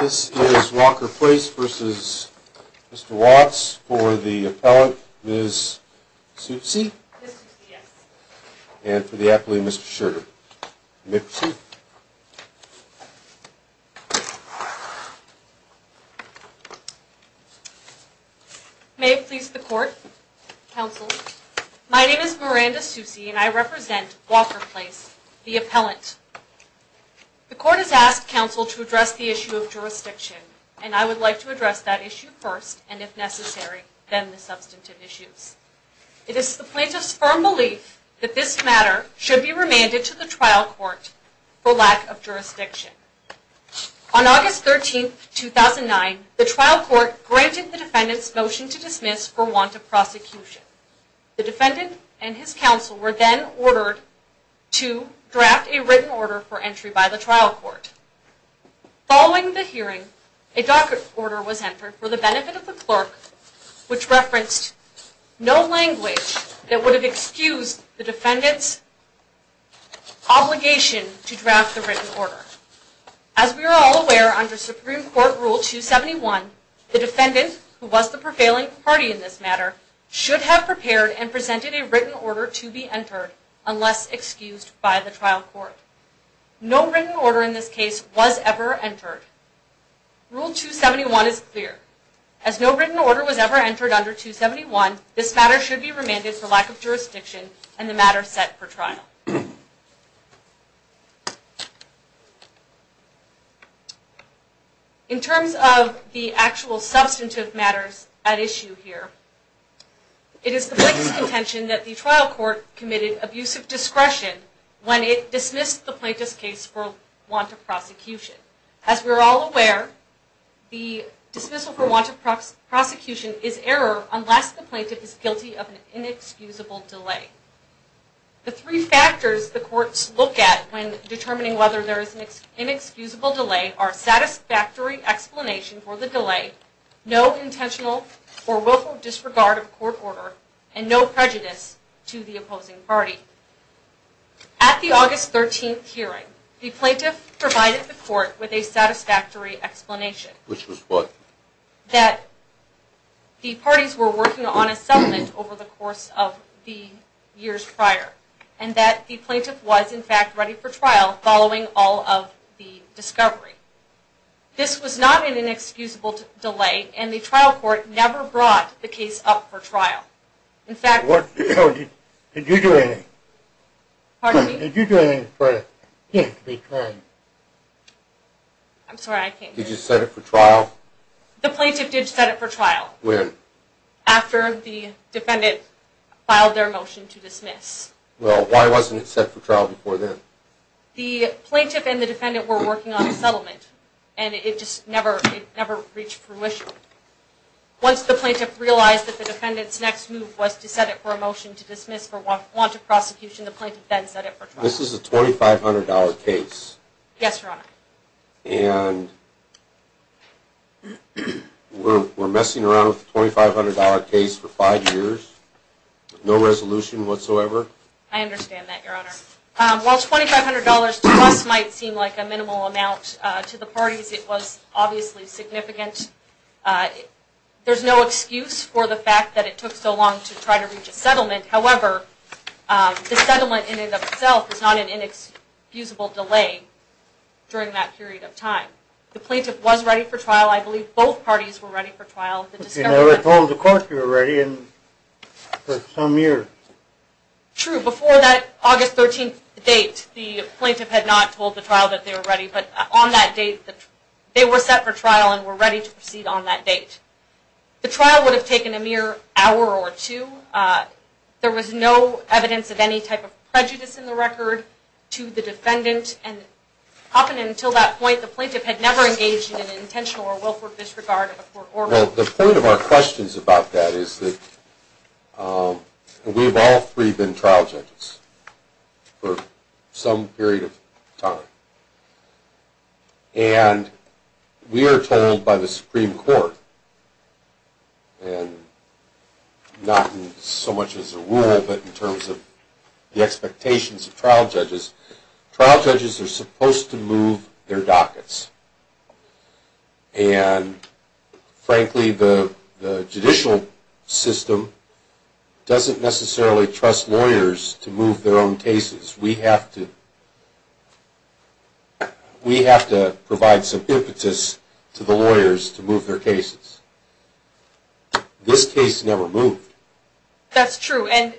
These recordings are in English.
This is Walker Place v. Mr. Watts for the appellant, Ms. Soucy and for the appellant, Mr. Schurter. May it please the court, counsel. My name is Miranda Soucy and I represent Walker Place, the appellant. The court has asked counsel to address the issue of jurisdiction, and I would like to address that issue first, and if necessary, then the substantive issues. It is the plaintiff's firm belief that this matter should be remanded to the trial court for lack of jurisdiction. On August 13th, 2009, the trial court granted the defendant's motion to dismiss for want of prosecution. The defendant and his counsel were then ordered to draft a written order. Following the hearing, a docket order was entered for the benefit of the clerk, which referenced no language that would have excused the defendant's obligation to draft the written order. As we are all aware, under Supreme Court Rule 271, the defendant, who was the prevailing party in this matter, should have prepared and presented a written order to be entered unless excused by the trial court. No written order in this case was ever entered. Rule 271 is clear. As no written order was ever entered under 271, this matter should be remanded for lack of jurisdiction and the matter set for trial. In terms of the actual substantive matters at issue here, it is the plaintiff's contention that the trial court committed abusive discretion when it dismissed the As we are all aware, the dismissal for want of prosecution is error unless the plaintiff is guilty of an inexcusable delay. The three factors the courts look at when determining whether there is an inexcusable delay are satisfactory explanation for the delay, no intentional or willful disregard of court order, and no prejudice to the opposing party. At the August 13th trial, the plaintiff presented to the trial court with a satisfactory explanation, that the parties were working on a settlement over the course of the years prior, and that the plaintiff was, in fact, ready for trial following all of the discovery. This was not an inexcusable delay, and the trial court never brought the case up for trial. In fact, the plaintiff did set it for trial after the defendant filed their motion to dismiss. The plaintiff and the defendant were working on a settlement and it just never reached fruition. Once the plaintiff realized that the defendant's next move was to set it for a motion to dismiss for want of prosecution, the plaintiff then set it for trial. This is a $2,500 case. Yes, Your Honor. And we're messing around with a $2,500 case for five years with no resolution whatsoever? I understand that, Your Honor. While $2,500 to us might seem like a minimal amount to the parties, it was obviously significant. There's no excuse for the fact that it took so long to try to reach a settlement. However, the settlement in and of itself is not an inexcusable delay during that period of time. The plaintiff was ready for trial. I believe both parties were ready for trial. But you never told the court you were ready for some year. True. Before that August 13th date, the plaintiff had not told the trial that they were ready. But on that date, they were set for trial and were ready to proceed on that date. The trial would have taken a mere hour or two. There was no evidence of any type of prejudice in the record to the defendant. And up until that point, the plaintiff had never engaged in an intentional or willful disregard of a court order. Well, the point of our questions about that is that we've all three been trial judges for some period of time. And we are told by the Supreme Court, and not so much as a rule, but in terms of the expectations of trial judges, trial judges are supposed to move their dockets. And frankly, the judicial system doesn't necessarily trust lawyers to move their own cases. We have to provide some impetus to the lawyers to move their cases. This case never moved. That's true. And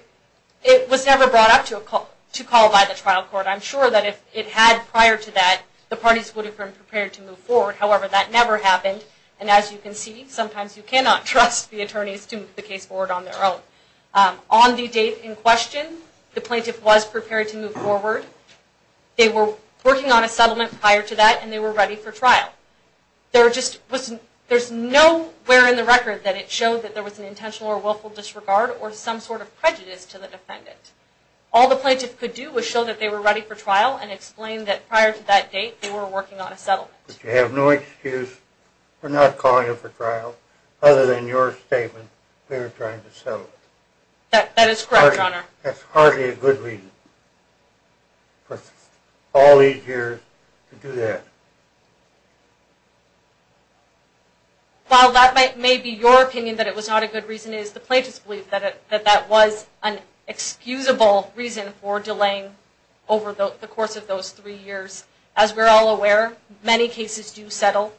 it was never brought up to call by the trial court. But I'm sure that if it had prior to that, the parties would have been prepared to move forward. However, that never happened. And as you can see, sometimes you cannot trust the attorneys to move the case forward on their own. On the date in question, the plaintiff was prepared to move forward. They were working on a settlement prior to that, and they were ready for trial. There's nowhere in the record that it showed that there was an intentional or willful disregard or some sort of prejudice to the defendant. All the plaintiff could do was show that they were ready for trial and explain that prior to that date, they were working on a settlement. But you have no excuse for not calling it for trial, other than your statement, we were trying to settle it. That is correct, Your Honor. That's hardly a good reason for all these years to do that. While that may be your opinion that it was not a good reason, it is the plaintiff's belief that that was an excusable reason for delaying over the course of those three years. As we're all aware, many cases do settle.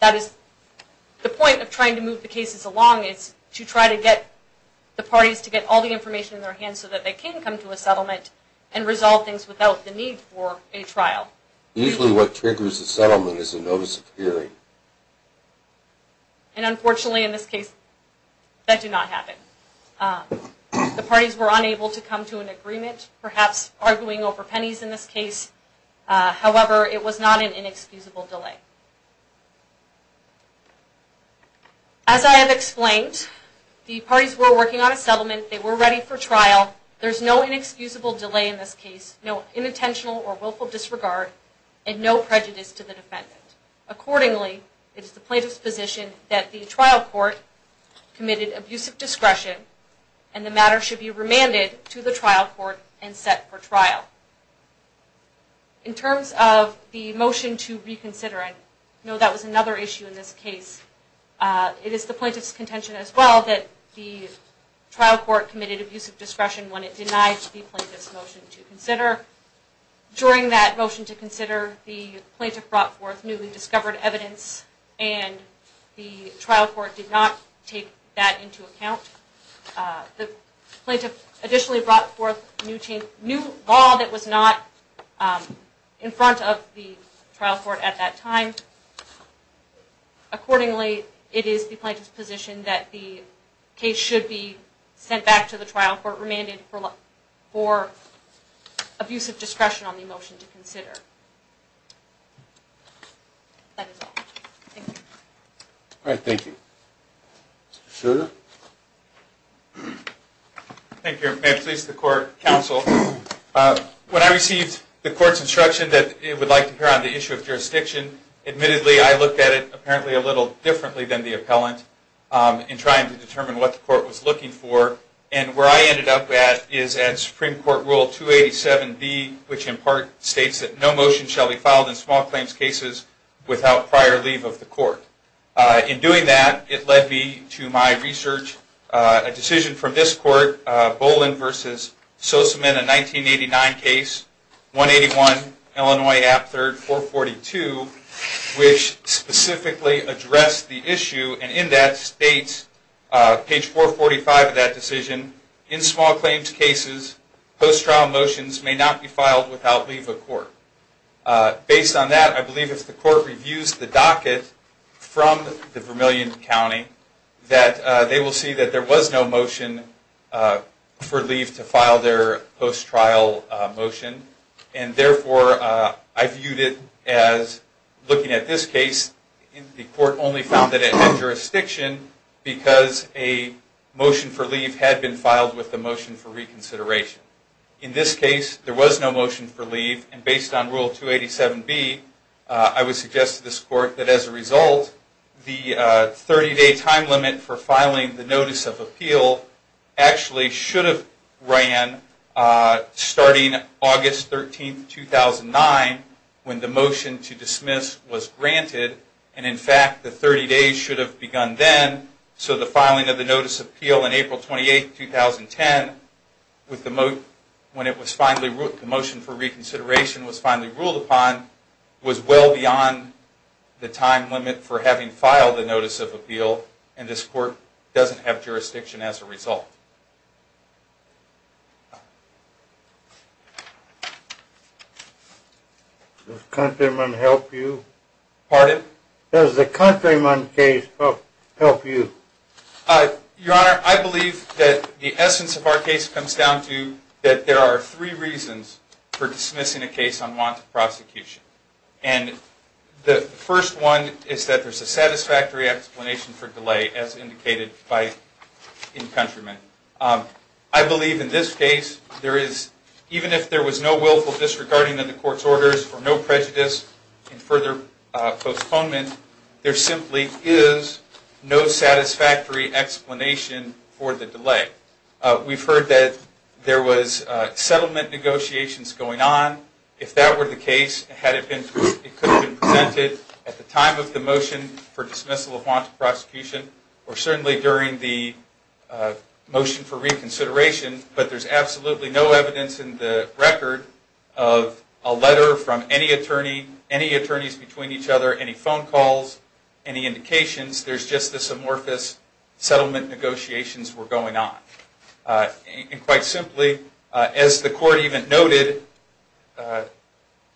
That is the point of trying to move the cases along is to try to get the parties to get all the information in their hands so that they can come to a settlement and resolve things without the need for a trial. Usually what triggers a settlement is a notice of hearing. And unfortunately in this case, that did not happen. The parties were unable to come to an agreement, perhaps arguing over pennies in this case. However, it was not an inexcusable delay. As I have explained, the parties were working on a settlement. They were ready for trial. There is no inexcusable delay in this case, no unintentional or willful disregard, and no prejudice to the defendant. Accordingly, it is the plaintiff's position that the trial court committed abusive discretion and the matter should be remanded to the trial court and set for trial. In terms of the motion to reconsider, I know that was another issue in this case. It is the plaintiff's contention as well that the trial court committed abusive discretion when it denied the plaintiff's motion to consider. During that motion to consider, the plaintiff brought forth newly discovered evidence and the trial court did not take that into account. The plaintiff additionally brought forth new law that was not in front of the trial court at that time. Accordingly, it is the plaintiff's position that the case should be sent back to the trial court and remanded for abusive discretion on the motion to consider. That is all. Thank you. Alright, thank you. Mr. Sugar? Thank you. May it please the court, counsel. When I received the court's instruction that it would like to hear on the issue of jurisdiction, admittedly I looked at it apparently a little differently than the appellant in trying to determine what the court was looking for. And where I ended up at is at Supreme Court Rule 287B, which in part states that no motion shall be filed in small claims cases without prior leave of the court. In doing that, it led me to my research. A decision from this court, Boland v. Sosamin, a 1989 case, 181 Illinois App 3rd, 442, which specifically addressed the issue. And in that states, page 445 of that decision, in small claims cases, post-trial motions may not be filed without leave of court. Based on that, I believe if the court reviews the docket from the Vermillion County, that they will see that there was no motion for leave to file their post-trial motion. And therefore, I viewed it as, looking at this case, the court only found that it had jurisdiction because a motion for leave had been filed with the motion for reconsideration. In this case, there was no motion for leave. And based on Rule 287B, I would suggest to this court that as a result, the 30-day time limit for filing the Notice of Appeal actually should have ran starting August 13, 2009, when the motion to dismiss was granted. And in fact, the 30 days should have begun then. So the filing of the Notice of Appeal on April 28, 2010, when the motion for reconsideration was finally ruled upon, was well beyond the time limit for having filed the Notice of Appeal, and this court doesn't have jurisdiction as a result. Does Countryman help you? Pardon? Does the Countryman case help you? Your Honor, I believe that the essence of our case comes down to that there are three reasons for dismissing a case on want of prosecution. And the first one is that there's a satisfactory explanation for delay, as indicated in Countryman. I believe in this case, even if there was no willful disregarding of the court's orders or no prejudice in further postponement, there simply is no satisfactory explanation for the delay. We've heard that there was settlement negotiations going on. If that were the case, it could have been presented at the time of the motion for dismissal of want of prosecution, or certainly during the motion for reconsideration, but there's absolutely no evidence in the record of a letter from any attorney, any attorneys between each other, any phone calls, any indications. There's just this amorphous settlement negotiations were going on. And quite simply, as the court even noted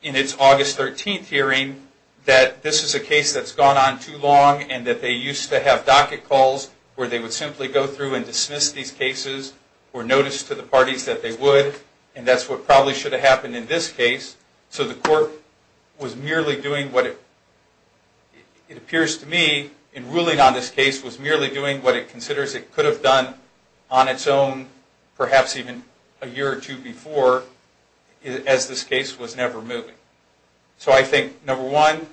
in its August 13th hearing, that this is a case that's gone on too long and that they used to have docket calls where they would simply go through and dismiss these cases or notice to the parties that they would, and that's what probably should have happened in this case. So the court was merely doing what it appears to me, in ruling on this case, was merely doing what it considers it could have done on its own, perhaps even a year or two before, as this case was never moving. So I think, number one,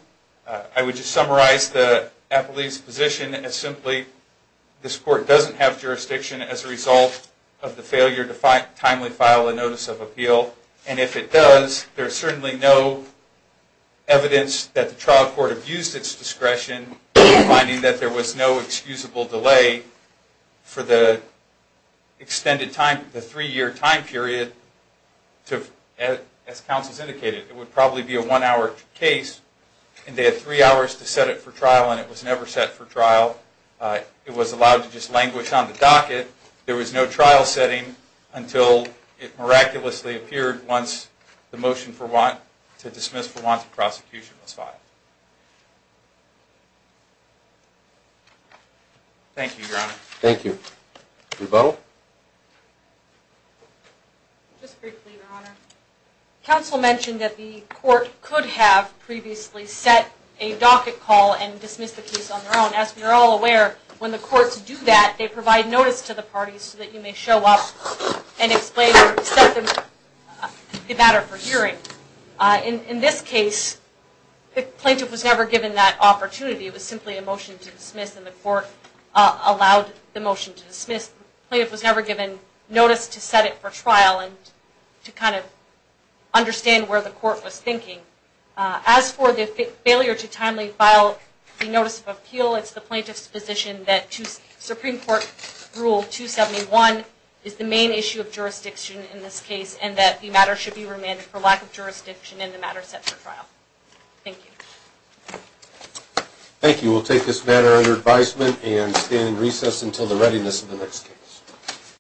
I would just summarize the appellee's position as simply, this court doesn't have jurisdiction as a result of the failure to timely file a notice of appeal, and if it does, there's certainly no evidence that the trial court abused its discretion in finding that there was no excusable delay for the extended time, the three-year time period, to, as counsel's indicated, it would probably be a one-hour case, and they had three hours to set it for trial and it was never set for trial. It was allowed to just languish on the docket. There was no trial setting until it miraculously appeared once the motion to dismiss for want of prosecution was filed. Thank you, Your Honor. Thank you. Rebuttal? Just briefly, Your Honor. Counsel mentioned that the court could have previously set a docket call and dismissed the case on their own. As we are all aware, when the courts do that, they provide notice to the parties so that you may show up and explain or accept the matter for hearing. In this case, the plaintiff was never given that opportunity. It was simply a motion to dismiss and the court allowed the motion to dismiss. The plaintiff was never given notice to set it for trial and to kind of understand where the court was thinking. As for the failure to timely file the notice of appeal, it's the plaintiff's position that Supreme Court Rule 271 is the main issue of jurisdiction in this case and that the matter should be remanded for lack of jurisdiction and the matter set for trial. Thank you. Thank you. We'll take this matter under advisement and stand in recess until the readiness of the next case.